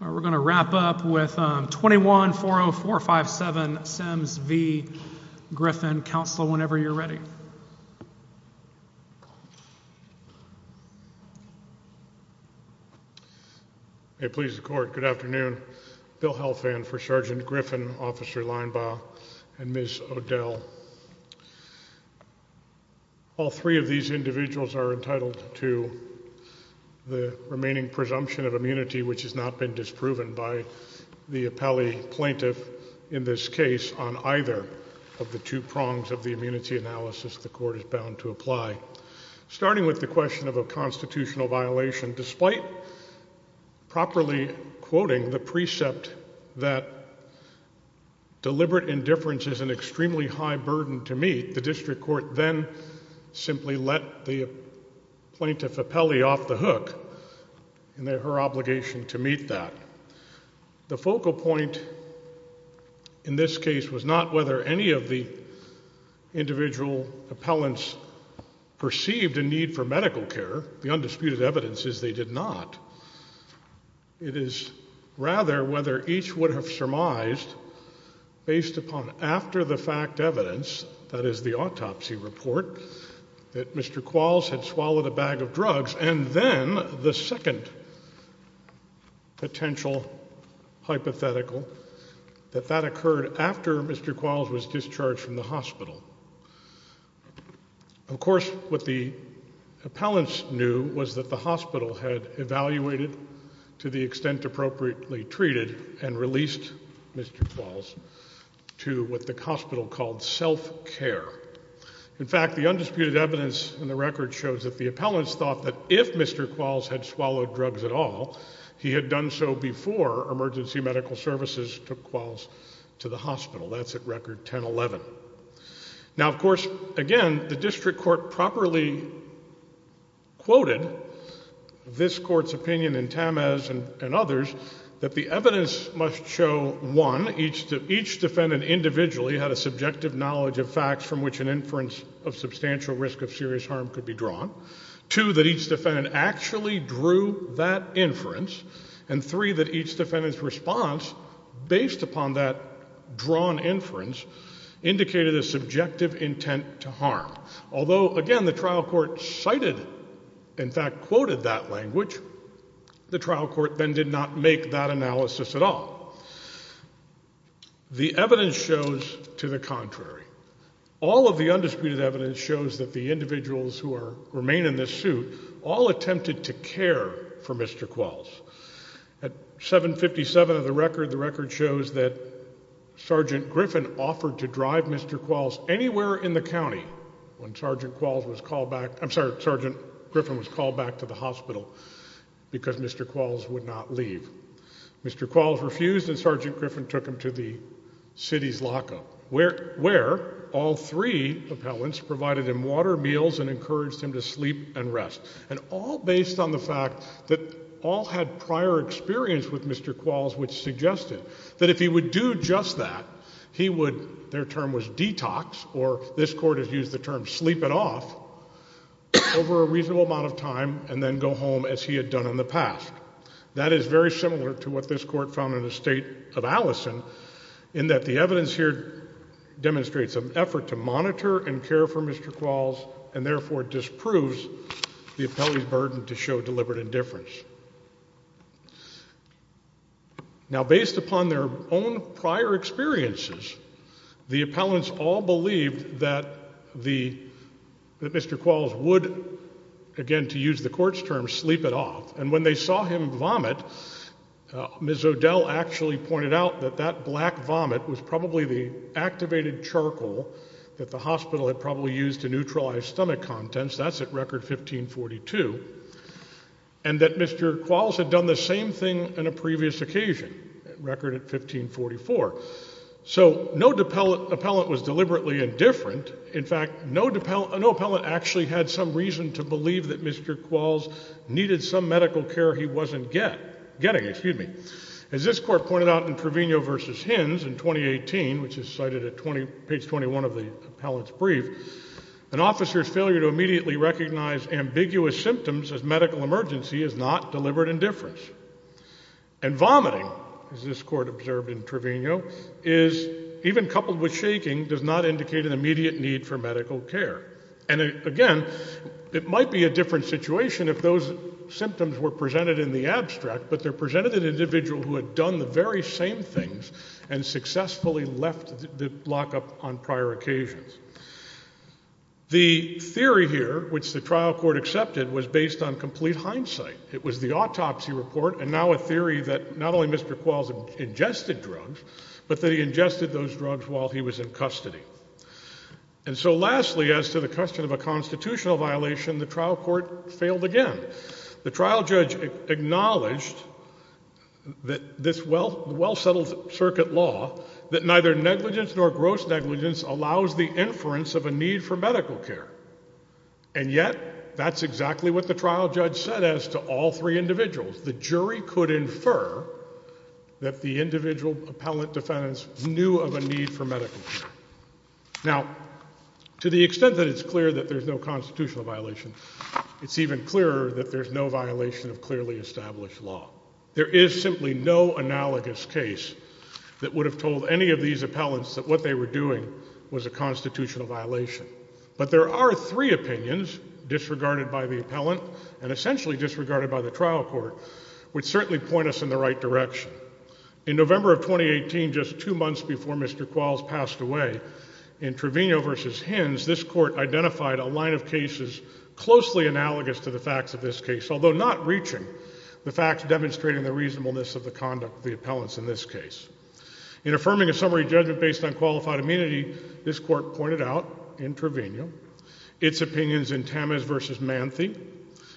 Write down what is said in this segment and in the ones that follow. We're going to wrap up with 2140457 SEMS v. Griffin. Counsel, whenever you're ready. It pleases the court. Good afternoon. Bill Helfand for Sergeant Griffin, Officer Linebaugh, and Ms. O'Dell. All three of these individuals are entitled to the remaining presumption of immunity, which has not been disproven by the appellee plaintiff in this case on either of the two prongs of the immunity analysis the court is bound to apply. Starting with the question of a constitutional violation, despite properly quoting the precept that deliberate indifference is an extremely high burden to meet, the district court then simply let the plaintiff appellee off the hook in her obligation to meet that. The focal point in this case was not whether any of the individual appellants perceived a need for medical care. The undisputed evidence is they did not. It is rather whether each would have surmised based upon after the fact evidence, that is the autopsy report, that Mr. Qualls had swallowed a bag of drugs, and then the second potential hypothetical, that that occurred after Mr. Qualls was discharged from the hospital. Of course, what the appellants knew was that the hospital had evaluated, to the extent appropriately treated, and released Mr. Qualls to what the hospital called self-care. In fact, the undisputed evidence in the record shows that the appellants thought that if Mr. Qualls had swallowed drugs at all, he had done so before emergency medical services took Qualls to the hospital. That's at record 10-11. Now, of course, again, the district court properly quoted this court's opinion in Tamez and others that the evidence must show, one, each defendant individually had a subjective knowledge of facts from which an inference of substantial risk of serious harm could be drawn, two, that each defendant actually drew that inference, and three, that each defendant's response, based upon that drawn inference, indicated a subjective intent to harm. Although, again, the trial court cited, in fact, quoted that language, the trial court then did not make that analysis at all. The evidence shows to the contrary. All of the undisputed evidence shows that the individuals who remain in this suit all attempted to care for Mr. Qualls. At 757 of the record, the record shows that Sergeant Griffin offered to drive Mr. Qualls anywhere in the county when Sergeant Qualls was called back. I'm sorry, Sergeant Griffin was called back to the hospital because Mr. Qualls would not leave. Mr. Qualls refused, and Sergeant Griffin took him to the city's lockup, where all three appellants provided him water, meals, and encouraged him to sleep and rest, and all based on the fact that all had prior experience with Mr. Qualls, which suggested that if he would do just that, he would, their term was detox, or this court has used the term sleep it off, over a reasonable amount of time, and then go home as he had done in the past. That is very similar to what this court found in the state of Allison, in that the evidence here demonstrates an effort to monitor and care for Mr. Qualls, and therefore disproves the appellant's burden to show deliberate indifference. Now, based upon their own prior experiences, the appellants all believed that Mr. Qualls would, again, to use the court's term, sleep it off. And when they saw him vomit, Ms. O'Dell actually pointed out that that black vomit was probably the activated charcoal that the hospital had probably used to neutralize stomach contents. That's at record 1542. And that Mr. Qualls had done the same thing on a previous occasion, at record at 1544. So no appellant was deliberately indifferent. In fact, no appellant actually had some reason to believe that Mr. Qualls needed some medical care he wasn't getting. As this court pointed out in Trevino versus Hins, in 2018, which is cited at page 21 of the appellant's brief, an officer's failure to immediately recognize ambiguous symptoms as medical emergency is not deliberate indifference. And vomiting, as this court observed in Trevino, is, even coupled with shaking, does not indicate an immediate need for medical care. And again, it might be a different situation if those symptoms were presented in the abstract, but they're presented to an individual who had done the very same things and successfully left the lockup on prior occasions. The theory here, which the trial court accepted, was based on complete hindsight. It was the autopsy report, and now a theory that not only Mr. Qualls ingested drugs, but that he ingested those drugs while he was in custody. And so lastly, as to the question of a constitutional violation, the trial court failed again. The trial judge acknowledged that this well-settled circuit law, that neither negligence nor gross negligence allows the inference of a need for medical care. And yet, that's exactly what the trial judge said as to all three individuals. The jury could infer that the individual appellant defendants knew of a need for medical care. Now, to the extent that it's clear that there's no constitutional violation, it's even clearer that there's no violation of clearly established law. There is simply no analogous case that would have told any of these appellants that what they were doing was a constitutional violation. But there are three opinions disregarded by the appellant and essentially disregarded by the trial court, which certainly point us in the right direction. In November of 2018, just two months before Mr. Qualls passed away, in Trevino versus Hins, this court identified a line of cases closely analogous to the facts of this case, although not reaching the facts demonstrating the reasonableness of the conduct of the appellants in this case. In affirming a summary judgment based on qualified immunity, this court pointed out, in Trevino, its opinions in Tamez versus Manthe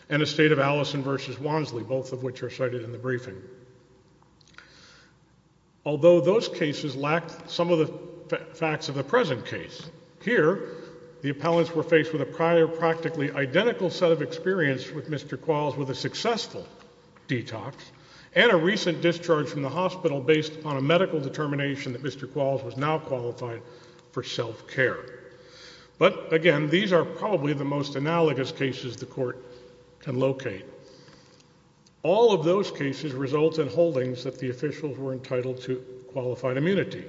and a state of Allison versus Wansley, both of which are cited in the briefing. Although those cases lacked some of the facts of the present case, here, the appellants were faced with a prior practically identical set of experience with Mr. Qualls with a successful detox and a recent discharge from the hospital based on a medical determination that Mr. Qualls was now qualified for self-care. But again, these are probably the most analogous cases the court can locate. All of those cases result in holdings that the officials were entitled to qualified immunity.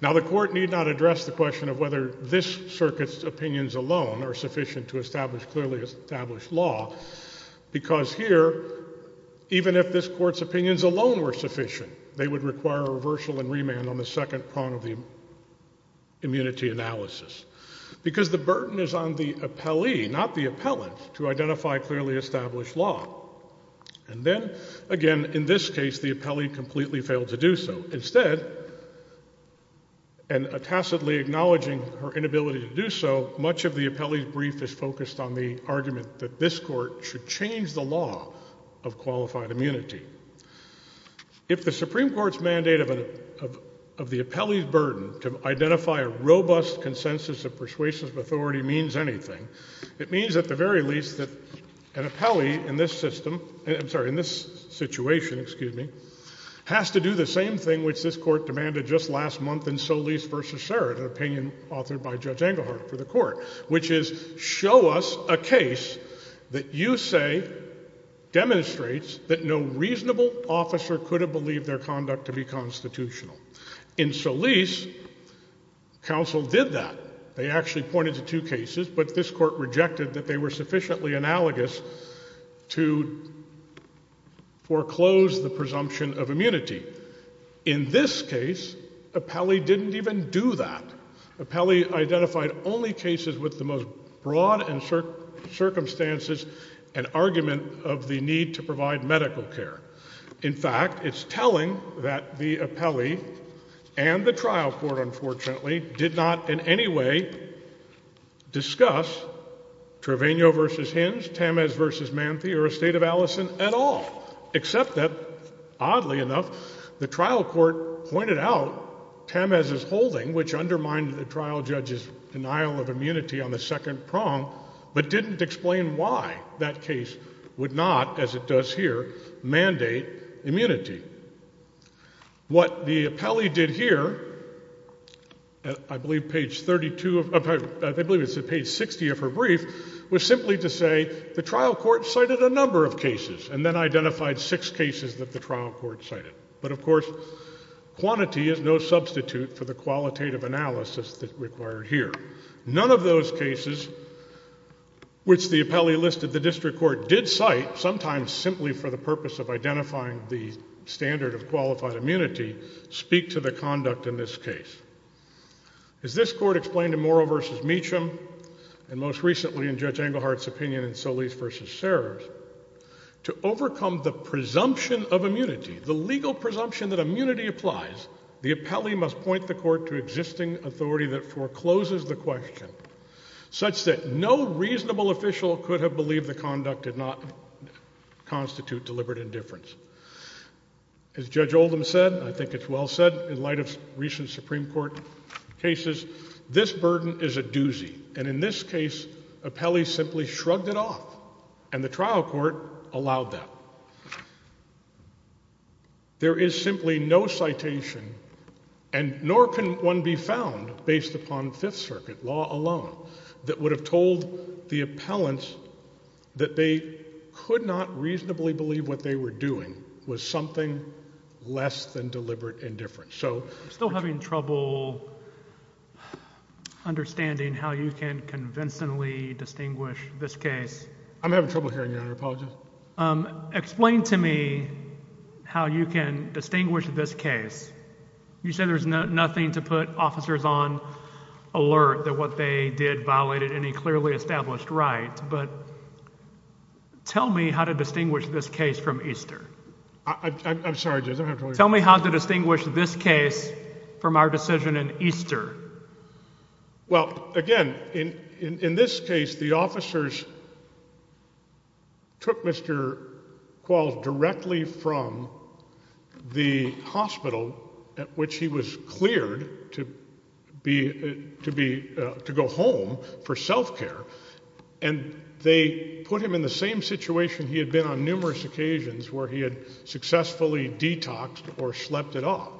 Now, the court need not address the question of whether this circuit's opinions alone are sufficient to establish clearly established law, because here, even if this court's opinions alone were sufficient, they would require reversal and remand on the second prong of the immunity analysis. Because the burden is on the appellee, not the appellant, to identify clearly established law. And then, again, in this case, the appellee completely failed to do so. Instead, and tacitly acknowledging her inability to do so, much of the appellee's brief is focused on the argument that this court should change the law of qualified immunity. If the Supreme Court's mandate of the appellee's burden to identify a robust consensus of persuasive authority means anything, it means, at the very least, that an appellee in this system, I'm sorry, in this situation, excuse me, has to do the same thing which this court demanded just last month in Solis v. Serrett, an opinion authored by Judge Engelhardt for the court, which is show us a case that you say demonstrates that no reasonable officer could have believed their conduct to be constitutional. In Solis, counsel did that. They actually pointed to two cases, but this court rejected that they were sufficiently analogous to foreclose the presumption of immunity. In this case, appellee didn't even do that. Appellee identified only cases with the most broad and certain circumstances and argument of the need to provide medical care. In fact, it's telling that the appellee and the trial court, unfortunately, did not in any way discuss Treveno v. Hinge, Tamez v. Manthe, or Estate of Allison at all, except that, oddly enough, the trial court pointed out Tamez's holding, which undermined the trial judge's denial of immunity on the second prong, but didn't explain why that case would not, as it does here, mandate immunity. What the appellee did here, I believe page 32 of her, I believe it's at page 60 of her brief, was simply to say the trial court cited a number of cases and then identified six cases that the trial court cited. But, of course, quantity is no substitute for the qualitative analysis that's required here. None of those cases, which the appellee listed the district court did cite, sometimes simply for the purpose of identifying the standard of qualified immunity, speak to the conduct in this case. As this court explained in Morrow v. Meacham, and most recently in Judge Englehart's opinion in Solis v. Serres, to overcome the presumption of immunity, the legal presumption that immunity applies, the appellee must point the court to existing authority that forecloses the question, such that no reasonable official could have believed the conduct did not constitute deliberate indifference. As Judge Oldham said, I think it's well said in light of recent Supreme Court cases, this burden is a doozy. And in this case, appellees simply shrugged it off, and the trial court allowed that. There is simply no citation, and nor can one be found based upon Fifth Circuit law alone, that would have told the appellants that they could not reasonably believe what they were doing was something less than deliberate indifference. So still having trouble understanding how you can convincingly distinguish this case. I'm having trouble hearing you, Your Honor, I apologize. Explain to me how you can distinguish this case. You said there's nothing to put officers on alert that what they did violated any clearly established right, but tell me how to distinguish this case from Easter. I'm sorry, Judge, I don't have to hear you. Tell me how to distinguish this case from our decision in Easter. Well, again, in this case, the officers took Mr. Qualls directly from the hospital, which he was cleared to go home for self-care. And they put him in the same situation he had been on numerous occasions, where he had successfully detoxed or slept it off.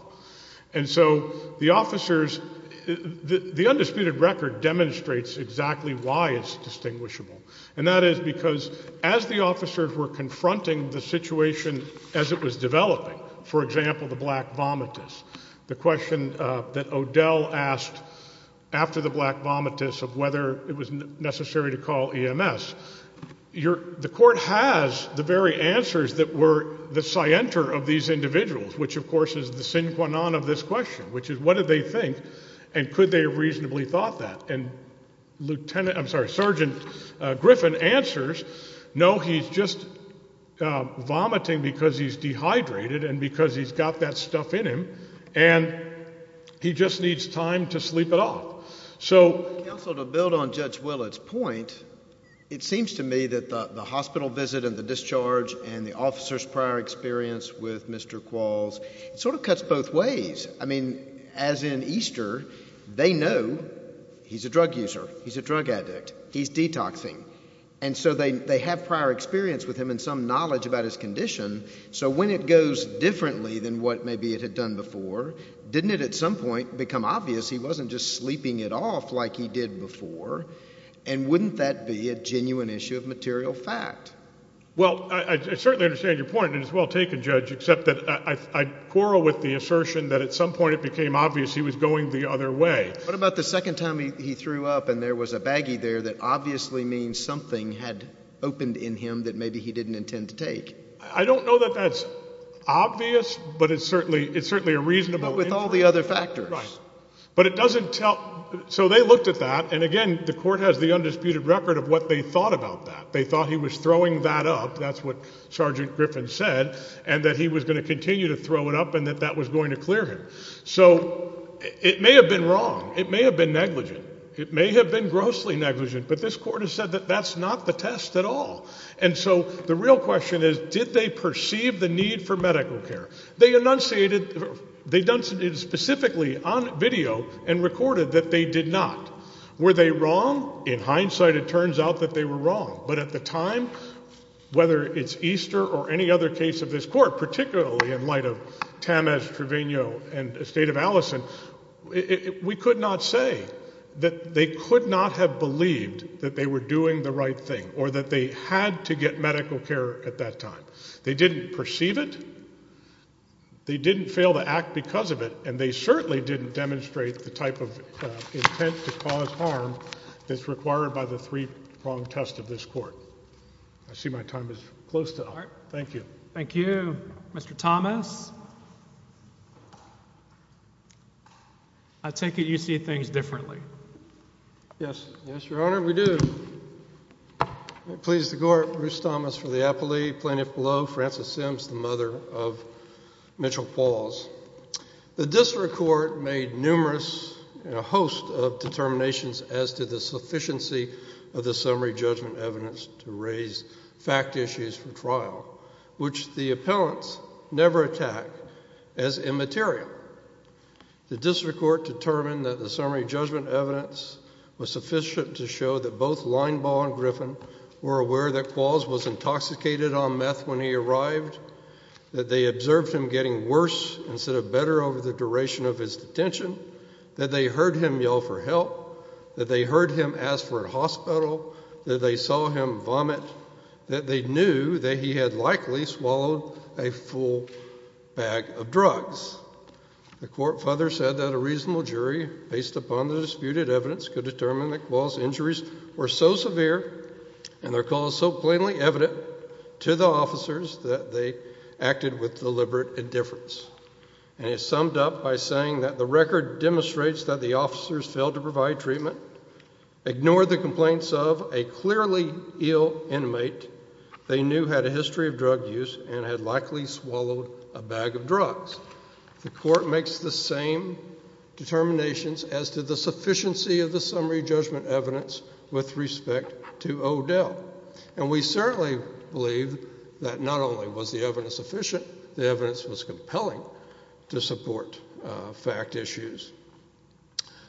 And so the officers, the undisputed record demonstrates exactly why it's distinguishable. And that is because as the officers were confronting the situation as it was developing, for example, the black vomitus, the question that Odell asked after the black vomitus of whether it was necessary to call EMS, the court has the very answers that were the scienter of these individuals, which, of course, is the sine qua non of this question, which is what did they think, and could they have reasonably thought that? And Lieutenant, I'm sorry, Sergeant Griffin answers, no, he's just vomiting because he's dehydrated and because he's got that stuff in him, and he just needs time to sleep it off. So to build on Judge Willett's point, it seems to me that the hospital visit and the discharge and the officer's prior experience with Mr. Qualls sort of cuts both ways. I mean, as in Easter, they know he's a drug user, he's a drug addict, he's detoxing. And so they have prior experience with him and some knowledge about his condition. So when it goes differently than what maybe it had done before, didn't it at some point become obvious he wasn't just sleeping it off like he did before? And wouldn't that be a genuine issue of material fact? Well, I certainly understand your point, and it's well taken, Judge, except that I quarrel with the assertion that at some point it became obvious he was going the other way. What about the second time he threw up and there was a baggie there that obviously means something had opened in him that maybe he didn't intend to take? I don't know that that's obvious, but it's certainly a reasonable inference. But with all the other factors. Right. But it doesn't tell. So they looked at that, and again, the court has the undisputed record of what they thought about that. They thought he was throwing that up, that's what Sergeant Griffin said, and that he was going to continue to throw it up and that that was going to clear him. So it may have been wrong. It may have been negligent. It may have been grossly negligent. But this court has said that that's not the test at all. And so the real question is, did they perceive the need for medical care? They enunciated, they done it specifically on video and recorded that they did not. Were they wrong? In hindsight, it turns out that they were wrong. But at the time, whether it's Easter or any other case of this court, particularly in light of Tamez Trevino and the state of Allison, we could not say that they could not have believed that they were doing the right thing or that they had to get medical care at that time. They didn't perceive it. They didn't fail to act because of it. And they certainly didn't demonstrate the type of intent to cause harm that's required by the three-pronged test of this court. I see my time is close to up. Thank you. Thank you. Mr. Thomas, I take it you see things differently. Yes. Yes, Your Honor, we do. Please the court, Bruce Thomas for the appellee, plaintiff below, Frances Sims, the mother of Mitchell Falls. The district court made numerous and a host of determinations as to the sufficiency of the summary judgment evidence to raise fact issues for trial, which the appellants never attack as immaterial. The district court determined that the summary judgment evidence was sufficient to show that both Linebaugh and Griffin were aware that Qualls was intoxicated on meth when he arrived, that they observed him getting worse instead of better over the duration of his detention, that they heard him yell for help, that they heard him ask for a hospital, that they saw him vomit, that they knew that he had likely swallowed a full bag of drugs. The court further said that a reasonable jury, based upon the disputed evidence, could determine that Qualls' injuries were so severe and their cause so plainly evident to the officers that they acted with deliberate indifference. And it's summed up by saying that the record demonstrates that the officers failed to provide treatment, ignored the complaints of a clearly ill inmate they knew had a history of drug use and had likely swallowed a bag of drugs. The court makes the same determinations as to the sufficiency of the summary judgment evidence with respect to O'Dell. And we certainly believe that not only was the evidence sufficient, the evidence was compelling to support fact issues.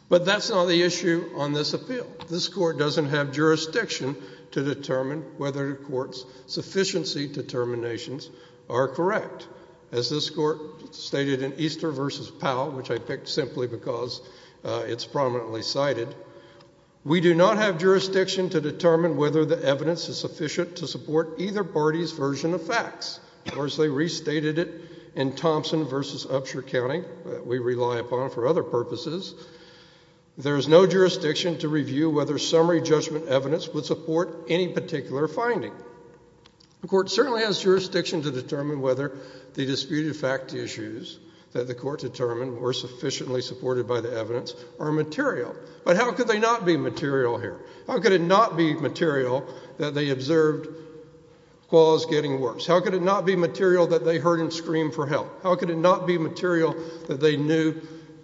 But that's not the issue on this appeal. This court doesn't have jurisdiction to determine whether the court's sufficiency determinations are correct. As this court stated in Easter versus Powell, which I picked simply because it's prominently cited, we do not have jurisdiction to determine whether the evidence is sufficient to support either party's version of facts. Of course, they restated it in Thompson versus Upshur County that we rely upon for other purposes. There is no jurisdiction to review whether summary judgment evidence would support any particular finding. The court certainly has jurisdiction to determine whether the disputed fact issues that the court determined were sufficiently supported by the evidence are material. But how could they not be material here? How could it not be material that they observed Quall's getting worse? How could it not be material that they heard him scream for help? How could it not be material that they knew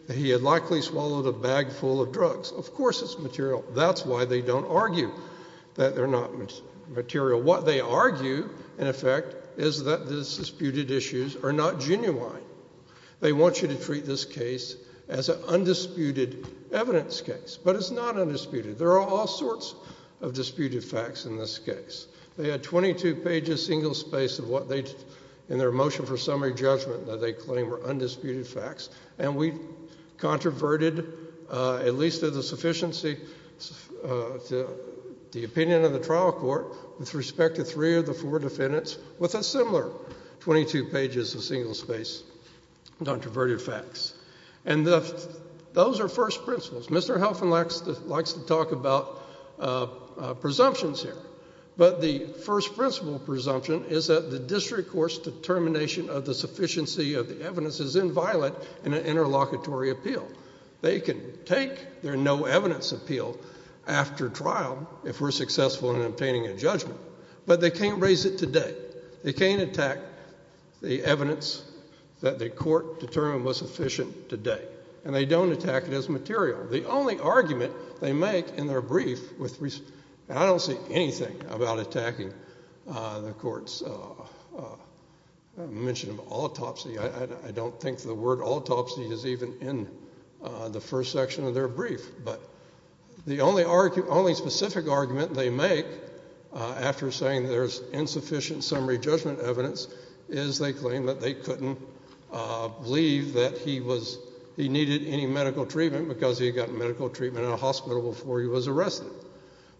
that he had likely swallowed a bag full of drugs? Of course it's material. That's why they don't argue that they're not material. What they argue, in effect, is that the disputed issues are not genuine. They want you to treat this case as an undisputed evidence case. But it's not undisputed. There are all sorts of disputed facts in this case. They had 22 pages single space in their motion for summary judgment that they claim were undisputed facts. And we controverted, at least to the opinion of the trial court, with respect to three of the four defendants with a similar 22 pages of single space controverted facts. And those are first principles. Mr. Helfen likes to talk about presumptions here. But the first principle presumption is that the district court's determination of the sufficiency of the evidence is inviolate in an interlocutory appeal. if we're successful in obtaining a judgment. But they can't raise it today. They can't attack the evidence that the court determined was sufficient today. And they don't attack it as material. The only argument they make in their brief with respect to, and I don't see anything about attacking the court's mention of autopsy. I don't think the word autopsy is even in the first section of their brief. But the only specific argument they make after saying there's insufficient summary judgment evidence is they claim that they couldn't believe that he needed any medical treatment because he got medical treatment in a hospital before he was arrested.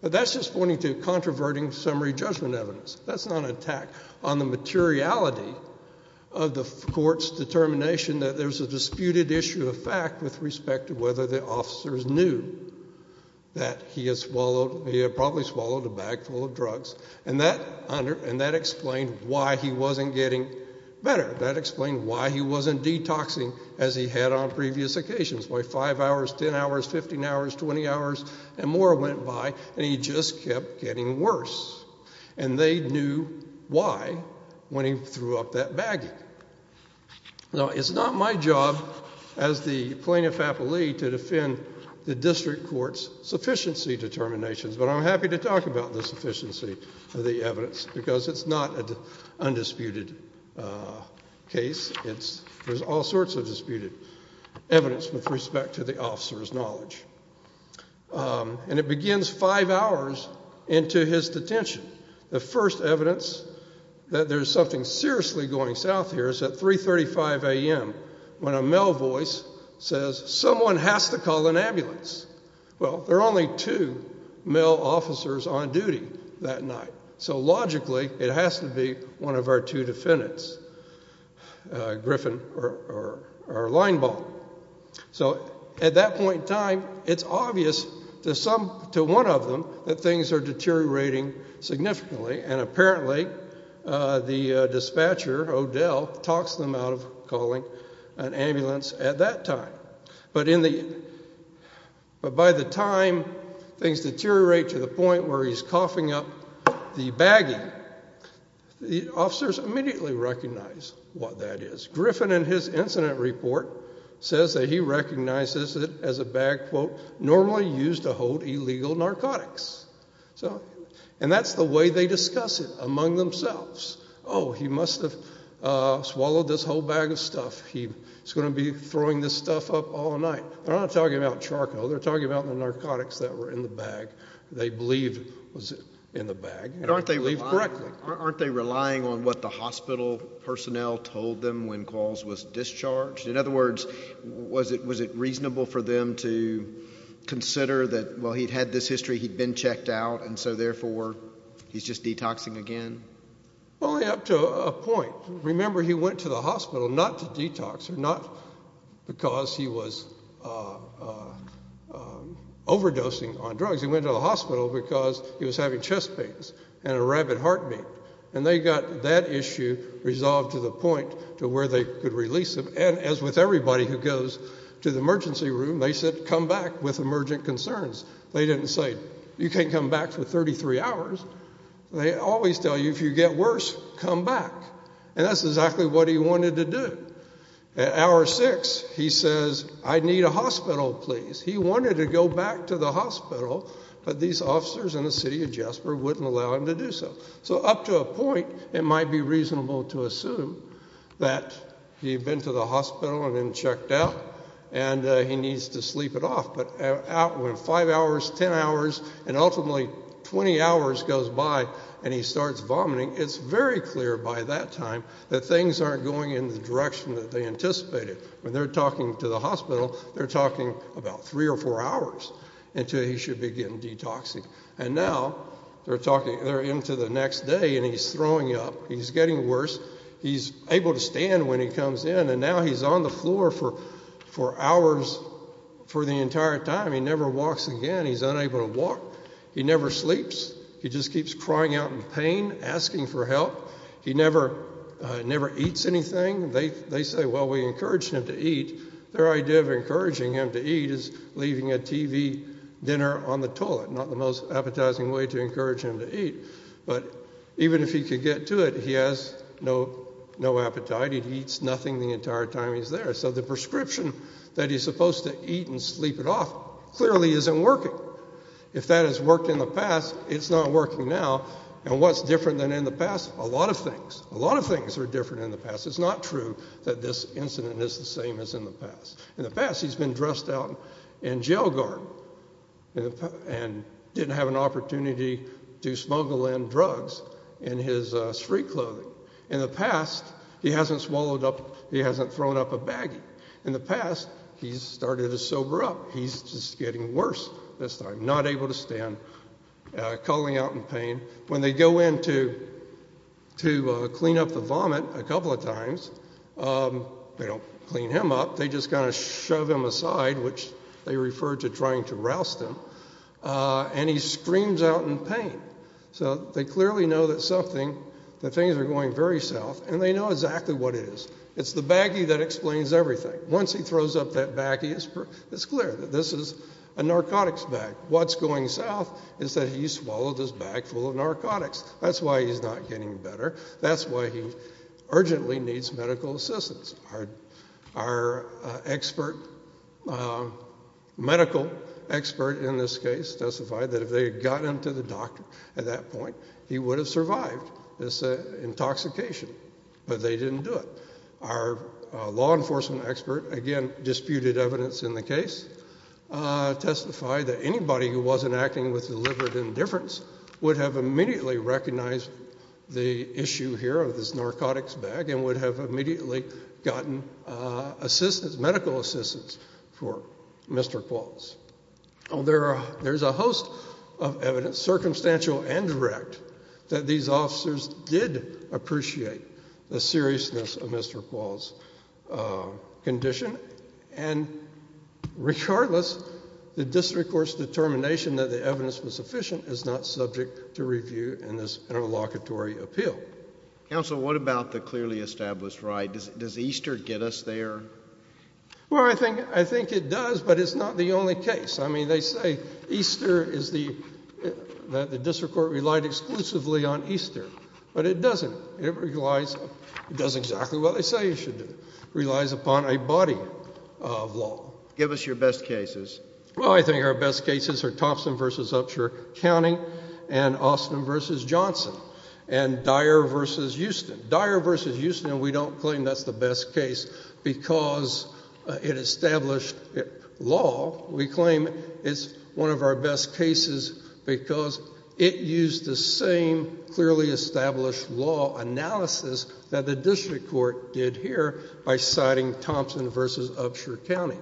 But that's just pointing to controverting summary judgment evidence. That's not an attack on the materiality of the court's determination that there's a disputed issue of fact with respect to whether the officers knew that he had probably swallowed a bag full of drugs. And that explained why he wasn't getting better. That explained why he wasn't detoxing as he had on previous occasions. Why five hours, 10 hours, 15 hours, 20 hours, and more went by. And he just kept getting worse. And they knew why when he threw up that baggie. Now, it's not my job as the plenipotentiary to defend the district court's sufficiency determinations. But I'm happy to talk about the sufficiency of the evidence because it's not an undisputed case. There's all sorts of disputed evidence with respect to the officer's knowledge. And it begins five hours into his detention. The first evidence that there's something seriously going south here is at 335 AM when a male voice says, someone has to call an ambulance. Well, there are only two male officers on duty that night. So logically, it has to be one of our two defendants, Griffin or Leinbaum. So at that point in time, it's obvious to one of them that things are deteriorating significantly. And apparently, the dispatcher, Odell, talks them out of calling an ambulance at that time. But by the time things deteriorate to the point where he's coughing up the baggie, the officers immediately recognize what that is. Griffin, in his incident report, says that he recognizes it as a bag, quote, normally used to hold illegal narcotics. So and that's the way they discuss it among themselves. Oh, he must have swallowed this whole bag of stuff. He's going to be throwing this stuff up all night. They're not talking about charcoal. They're talking about the narcotics that were in the bag, they believed was in the bag. And aren't they relying on what the hospital personnel told them when Qualls was discharged? In other words, was it reasonable for them to consider that, well, he'd had this history. He'd been checked out. And so therefore, he's just detoxing again? Only up to a point. Remember, he went to the hospital not to detox, or not because he was overdosing on drugs. He went to the hospital because he was having chest pains and a rabid heartbeat. And they got that issue resolved to the point to where they could release him. And as with everybody who goes to the emergency room, they said, come back with emergent concerns. They didn't say, you can't come back for 33 hours. They always tell you, if you get worse, come back. And that's exactly what he wanted to do. At hour six, he says, I need a hospital, please. He wanted to go back to the hospital, but these officers in the city of Jasper wouldn't allow him to do so. So up to a point, it might be reasonable to assume that he'd been to the hospital and then checked out, and he needs to sleep it off. But when five hours, 10 hours, and ultimately 20 hours goes by and he starts vomiting, it's very clear by that time that things aren't going in the direction that they anticipated. When they're talking to the hospital, they're talking about three or four hours until he should begin detoxing. And now, they're into the next day, and he's throwing up. He's getting worse. He's able to stand when he comes in, and now he's on the floor for hours for the entire time. He never walks again. He's unable to walk. He never sleeps. He just keeps crying out in pain, asking for help. He never eats anything. They say, well, we encouraged him to eat. Their idea of encouraging him to eat is leaving a TV dinner on the toilet, not the most appetizing way to encourage him to eat. But even if he could get to it, he has no appetite. He eats nothing the entire time he's there. So the prescription that he's supposed to eat and sleep it off clearly isn't working. If that has worked in the past, it's not working now. And what's different than in the past? A lot of things. A lot of things are different in the past. It's not true that this incident is the same as in the past. In the past, he's been dressed out in jail guard and didn't have an opportunity to smuggle in drugs in his street clothing. In the past, he hasn't swallowed up, he hasn't thrown up a baggie. In the past, he's started to sober up. He's just getting worse this time, not able to stand, calling out in pain. When they go in to clean up the vomit a couple of times, they don't clean him up. They just kind of shove him aside, which they refer to trying to roust him. And he screams out in pain. So they clearly know that something, that things are going very south. And they know exactly what it is. It's the baggie that explains everything. Once he throws up that baggie, it's clear that this is a narcotics bag. What's going south is that he swallowed his bag full of narcotics. That's why he's not getting better. That's why he urgently needs medical assistance. Our medical expert in this case testified that if they had gotten him to the doctor at that point, he would have survived this intoxication. But they didn't do it. Our law enforcement expert, again, disputed evidence in the case, testified that anybody who wasn't acting with deliberate indifference would have immediately recognized the issue here of this narcotics bag and would have immediately gotten medical assistance for Mr. Qualls. There's a host of evidence, circumstantial and direct, that these officers did appreciate the seriousness of Mr. Qualls' condition. And regardless, the district court's determination that the evidence was sufficient is not subject to review in this interlocutory appeal. Counsel, what about the clearly established ride? Does Easter get us there? Well, I think it does. But it's not the only case. They say Easter is the district court relied exclusively on Easter. But it doesn't. It does exactly what they say it should do, relies upon a body of law. Give us your best cases. Well, I think our best cases are Thompson versus Upshur County and Austin versus Johnson and Dyer versus Houston. Dyer versus Houston, we don't claim that's the best case because it established law. We claim it's one of our best cases because it used the same clearly established law analysis that the district court did here by citing Thompson versus Upshur County.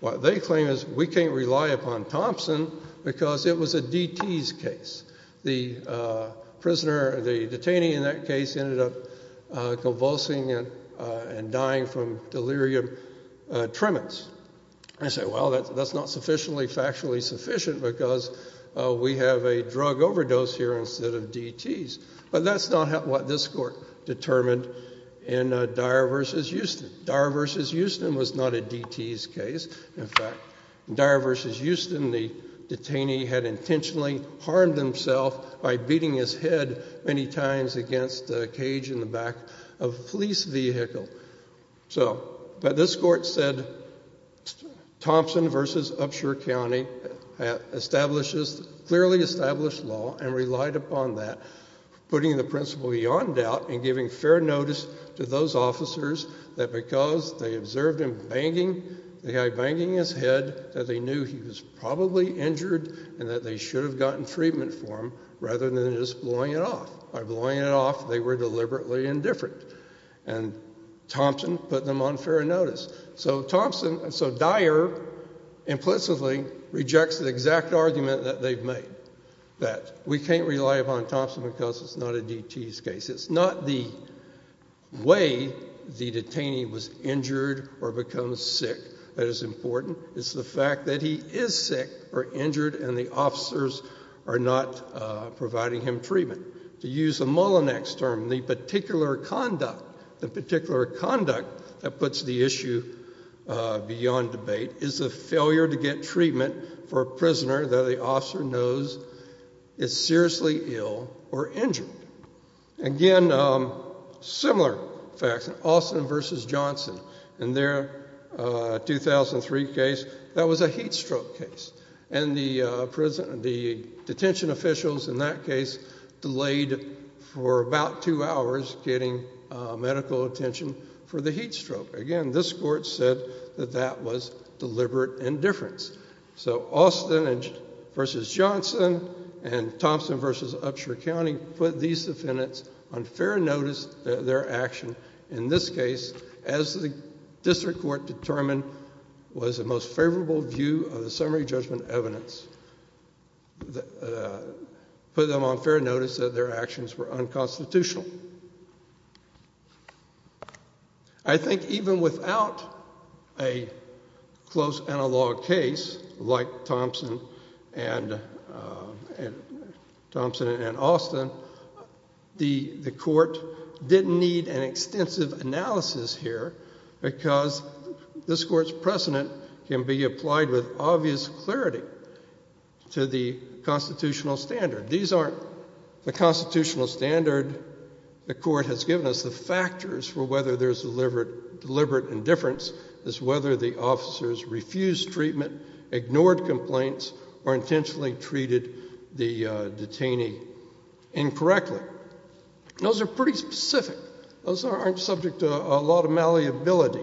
What they claim is we can't rely upon Thompson because it was a DT's case. The prisoner, the detainee in that case ended up convulsing and dying from delirium tremens. I say, well, that's not factually sufficient because we have a drug overdose here instead of DT's. But that's not what this court determined in Dyer versus Houston. Dyer versus Houston was not a DT's case. In fact, in Dyer versus Houston, the detainee had intentionally harmed himself by beating his head many times against a cage in the back of a police vehicle. So this court said Thompson versus Upshur County clearly established law and relied upon that, putting the principle beyond doubt and giving fair notice to those officers that because they observed him banging his head, that they knew he was probably injured and that they should have gotten treatment for him rather than just blowing it off. By blowing it off, they were deliberately indifferent. And Thompson put them on fair notice. So Thompson, so Dyer implicitly rejects the exact argument that they've made, that we can't rely upon Thompson because it's not a DT's case. It's not the way the detainee was injured or becomes sick that is important. It's the fact that he is sick or injured and the officers are not providing him treatment. To use a Mullinex term, the particular conduct that puts the issue beyond debate is a failure to get treatment for a prisoner that the officer knows is seriously ill or injured. Again, similar facts in Austin versus Johnson. In their 2003 case, that was a heat stroke case. And the detention officials in that case delayed for about two hours getting medical attention for the heat stroke. Again, this court said that that was deliberate indifference. So Austin versus Johnson and Thompson versus Upshur County put these defendants on fair notice, their action. In this case, as the district court determined was the most favorable view of the summary judgment evidence. Put them on fair notice that their actions were unconstitutional. I think even without a close analog case like Thompson and Austin, the court didn't need an extensive analysis here because this court's precedent can be applied with obvious clarity to the constitutional standard. These aren't the constitutional standard the court has given us. The factors for whether there's deliberate indifference is whether the officers refused treatment, ignored complaints, or intentionally treated the detainee incorrectly. Those are pretty specific. Those aren't subject to a lot of malleability.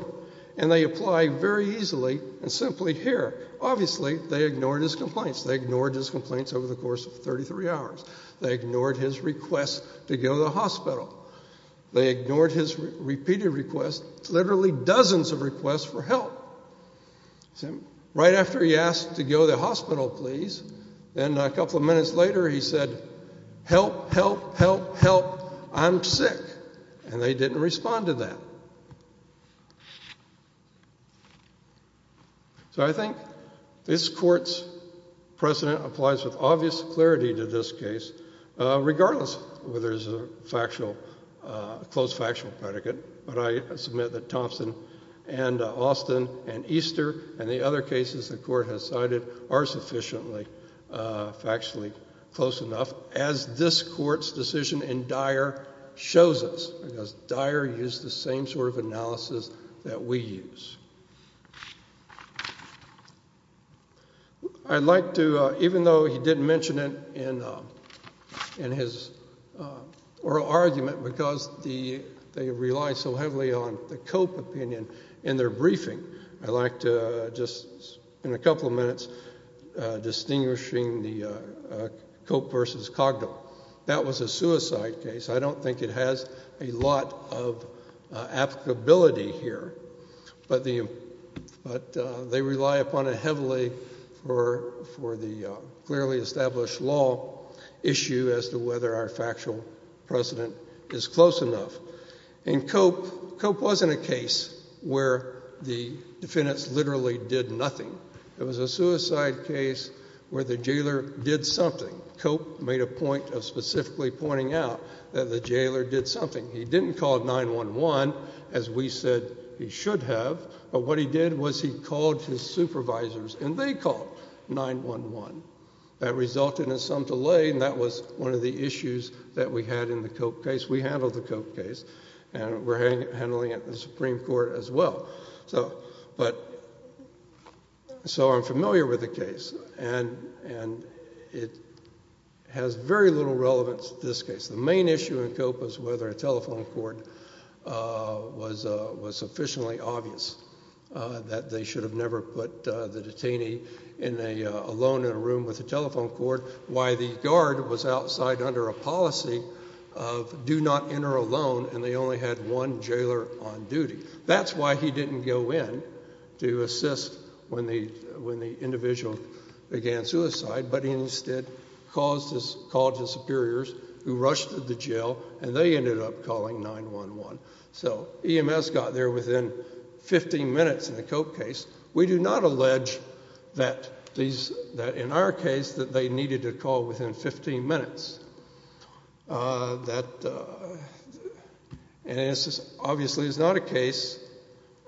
And they apply very easily and simply here. Obviously, they ignored his complaints. They ignored his complaints over the course of 33 hours. They ignored his requests to go to the hospital. They ignored his repeated requests, literally dozens of requests for help. Right after he asked to go to the hospital, please, then a couple of minutes later he said, help, help, help, help. I'm sick. And they didn't respond to that. So I think this court's precedent applies with obvious clarity to this case, regardless whether there's a close factual predicate. But I submit that Thompson and Austin and Easter and the other cases the court has cited are sufficiently factually close enough, as this court's decision in Dyer shows us. Dyer used the same sort of analysis that we use. Even though he didn't mention it in his oral argument because they relied so heavily on the Cope opinion in their briefing, I'd like to, just in a couple of minutes, distinguishing the Cope versus Cogdell. That was a suicide case. I don't think it has a lot of applicability here. But they rely upon it heavily for the clearly established law issue as to whether our factual precedent is close enough. In Cope, Cope wasn't a case where the defendants literally did nothing. It was a suicide case where the jailer did something. Cope made a point of specifically pointing out that the jailer did something. He didn't call 911, as we said he should have. But what he did was he called his supervisors, and they called 911. That resulted in some delay, and that was one of the issues that we had in the Cope case. We handled the Cope case. And we're handling it in the Supreme Court as well. But so I'm familiar with the case, and it has very little relevance to this case. The main issue in Cope was whether a telephone cord was sufficiently obvious that they should have never put the detainee alone in a room with a telephone cord, why the guard was outside under a policy of do not enter alone, and they only had one jailer on duty. That's why he didn't go in to assist when the individual began suicide. But he instead called his superiors, who rushed to the jail, and they ended up calling 911. So EMS got there within 15 minutes in the Cope case. We do not allege that in our case that they needed to call within 15 minutes. And obviously, it's not a case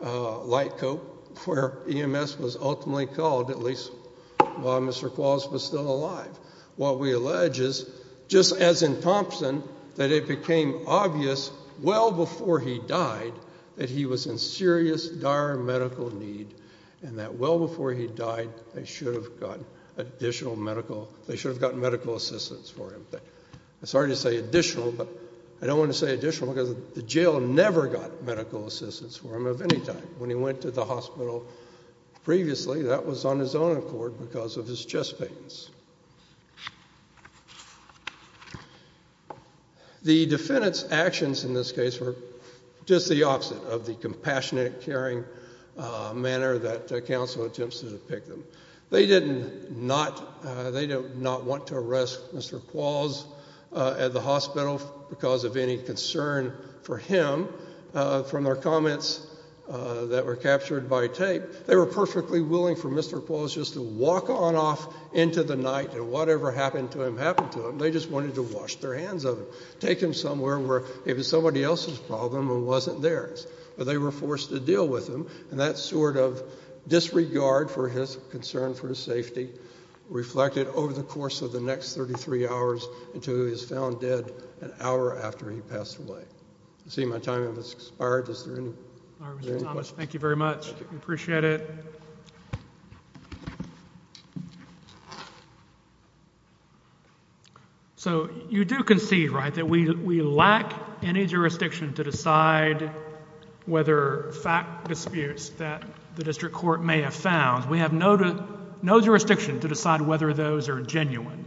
like Cope where EMS was ultimately called, at least while Mr. Qualls was still alive. What we allege is, just as in Thompson, that it became obvious well before he died that he was in serious, dire medical need, and that well before he died, they should have gotten additional medical assistance for him. Thank you. Sorry to say additional, but I don't want to say additional because the jail never got medical assistance for him of any type. When he went to the hospital previously, that was on his own accord because of his chest pains. The defendant's actions in this case were just the opposite of the compassionate, caring manner that counsel attempts to depict them. They did not want to arrest Mr. Qualls at the hospital because of any concern for him from their comments that were captured by tape. They were perfectly willing for Mr. Qualls just to walk on off into the night, and whatever happened to him, happened to him. They just wanted to wash their hands of him, take him somewhere where it was somebody else's problem and wasn't theirs. But they were forced to deal with him, and that sort of disregard for his concern for his safety reflected over the course of the next 33 hours until he was found dead an hour after he passed away. I see my time has expired. Is there any questions? All right, Mr. Thomas, thank you very much. We appreciate it. So you do concede, right, that we lack any jurisdiction to decide whether fact disputes that the district court may have found. We have no jurisdiction to decide whether those are genuine.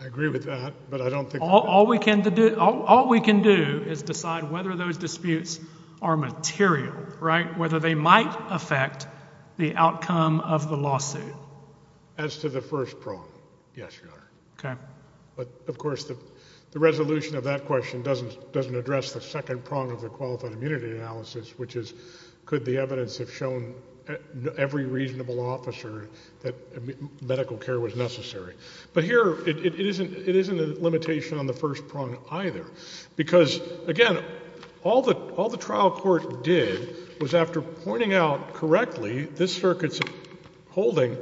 I agree with that, but I don't think that's true. All we can do is decide whether those disputes are material, right, whether they might affect the outcome of the lawsuit. As to the first prong, yes, Your Honor. But of course, the resolution of that question doesn't address the second prong of the qualified immunity analysis, which is could the evidence have shown every reasonable officer that medical care was necessary. But here, it isn't a limitation on the first prong either, because again, all the trial court did was after pointing out correctly this circuit's holding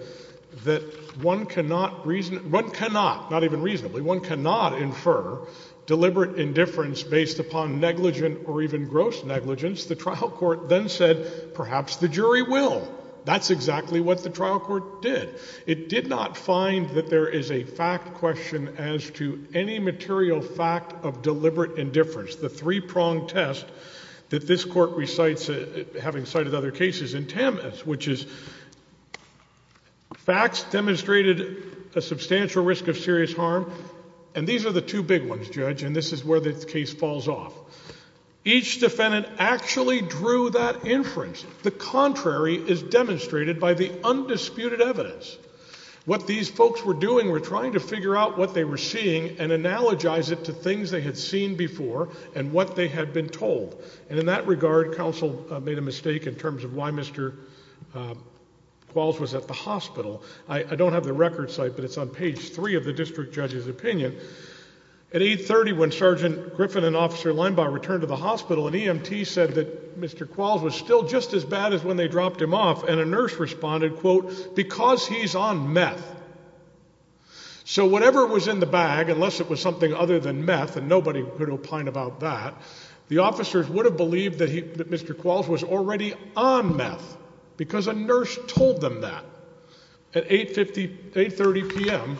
that one cannot reason, one cannot, not even reasonably, one cannot infer deliberate indifference based upon negligent or even gross negligence. The trial court then said, perhaps the jury will. That's exactly what the trial court did. It did not find that there is a fact question as to any material fact of deliberate indifference, the three-pronged test that this court recites, having cited other cases, in Tamas, which is facts demonstrated a substantial risk of serious harm. And these are the two big ones, Judge, and this is where the case falls off. Each defendant actually drew that inference. The contrary is demonstrated by the undisputed evidence. What these folks were doing were trying to figure out what they were seeing and analogize it to things they had seen before and what they had been told. And in that regard, counsel made a mistake in terms of why Mr. Qualls was at the hospital. I don't have the record site, but it's on page three of the district judge's opinion. At 830, when Sergeant Griffin and Officer Limebaugh returned to the hospital, an EMT said that Mr. Qualls was still just as bad as when they dropped him off, and a nurse responded, quote, because he's on meth. So whatever was in the bag, unless it was something other than meth, and nobody could opine about that, the officers would have believed that Mr. Qualls was already on meth, because a nurse told them that at 830 PM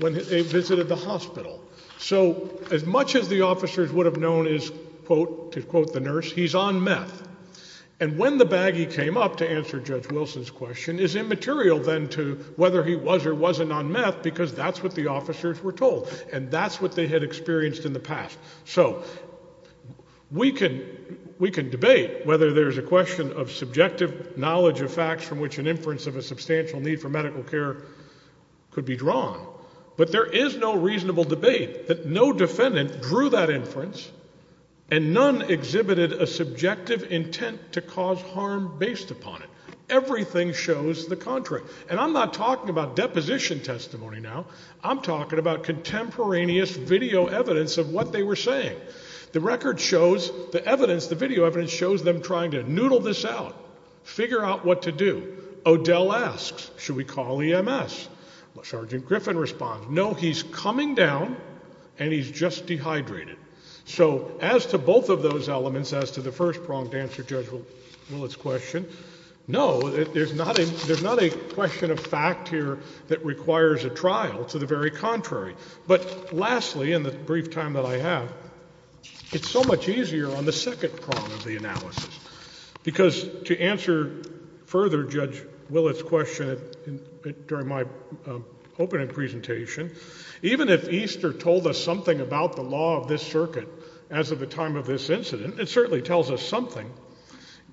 when they visited the hospital. So as much as the officers would have known is, quote, to quote the nurse, he's on meth. And when the bag he came up to answer Judge Wilson's question is immaterial then to whether he was or wasn't on meth, because that's what the officers were told, and that's what they had experienced in the past. So we can debate whether there's a question of subjective knowledge of facts from which an inference of a substantial need for medical care could be drawn, but there is no reasonable debate that no defendant drew that inference and none exhibited a subjective intent to cause harm based upon it. Everything shows the contrary. And I'm not talking about deposition testimony now. I'm talking about contemporaneous video evidence of what they were saying. The record shows the evidence, the video evidence shows them trying to noodle this out, figure out what to do. Odell asks, should we call EMS? Sergeant Griffin responds, no, he's coming down and he's just dehydrated. So as to both of those elements, as to the first pronged answer Judge Willett's question, no, there's not a question of fact here that requires a trial, to the very contrary. But lastly, in the brief time that I have, it's so much easier on the second prong of the analysis. Because to answer further Judge Willett's question during my opening presentation, even if Easter told us something about the law of this circuit as of the time of this incident, it certainly tells us something.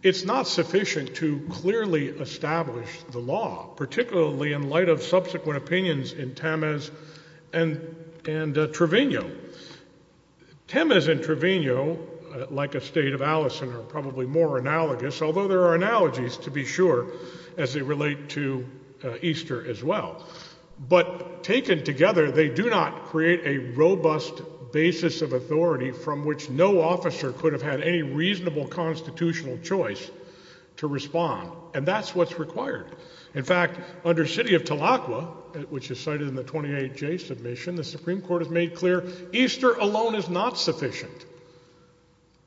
It's not sufficient to clearly establish the law, particularly in light of subsequent opinions in Temes and Trevino. Temes and Trevino, like a state of Allison, are probably more analogous. Although there are analogies, to be sure, as they relate to Easter as well. But taken together, they do not create a robust basis of authority from which no officer could have had any reasonable constitutional choice to respond. And that's what's required. In fact, under city of Tahlequah, which is cited in the 28J submission, the Supreme Court has made clear Easter alone is not sufficient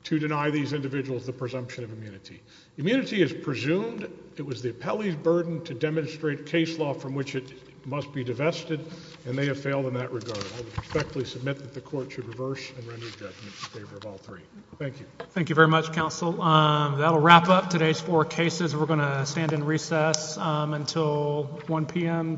to deny these individuals the presumption of immunity. Immunity is presumed. It was the appellee's burden to demonstrate case law from which it must be divested, and they have failed in that regard. I respectfully submit that the court should reverse and render judgment in favor of all three. Thank you. Thank you very much, counsel. That'll wrap up today's four cases. We're going to stand in recess until 1 PM tomorrow.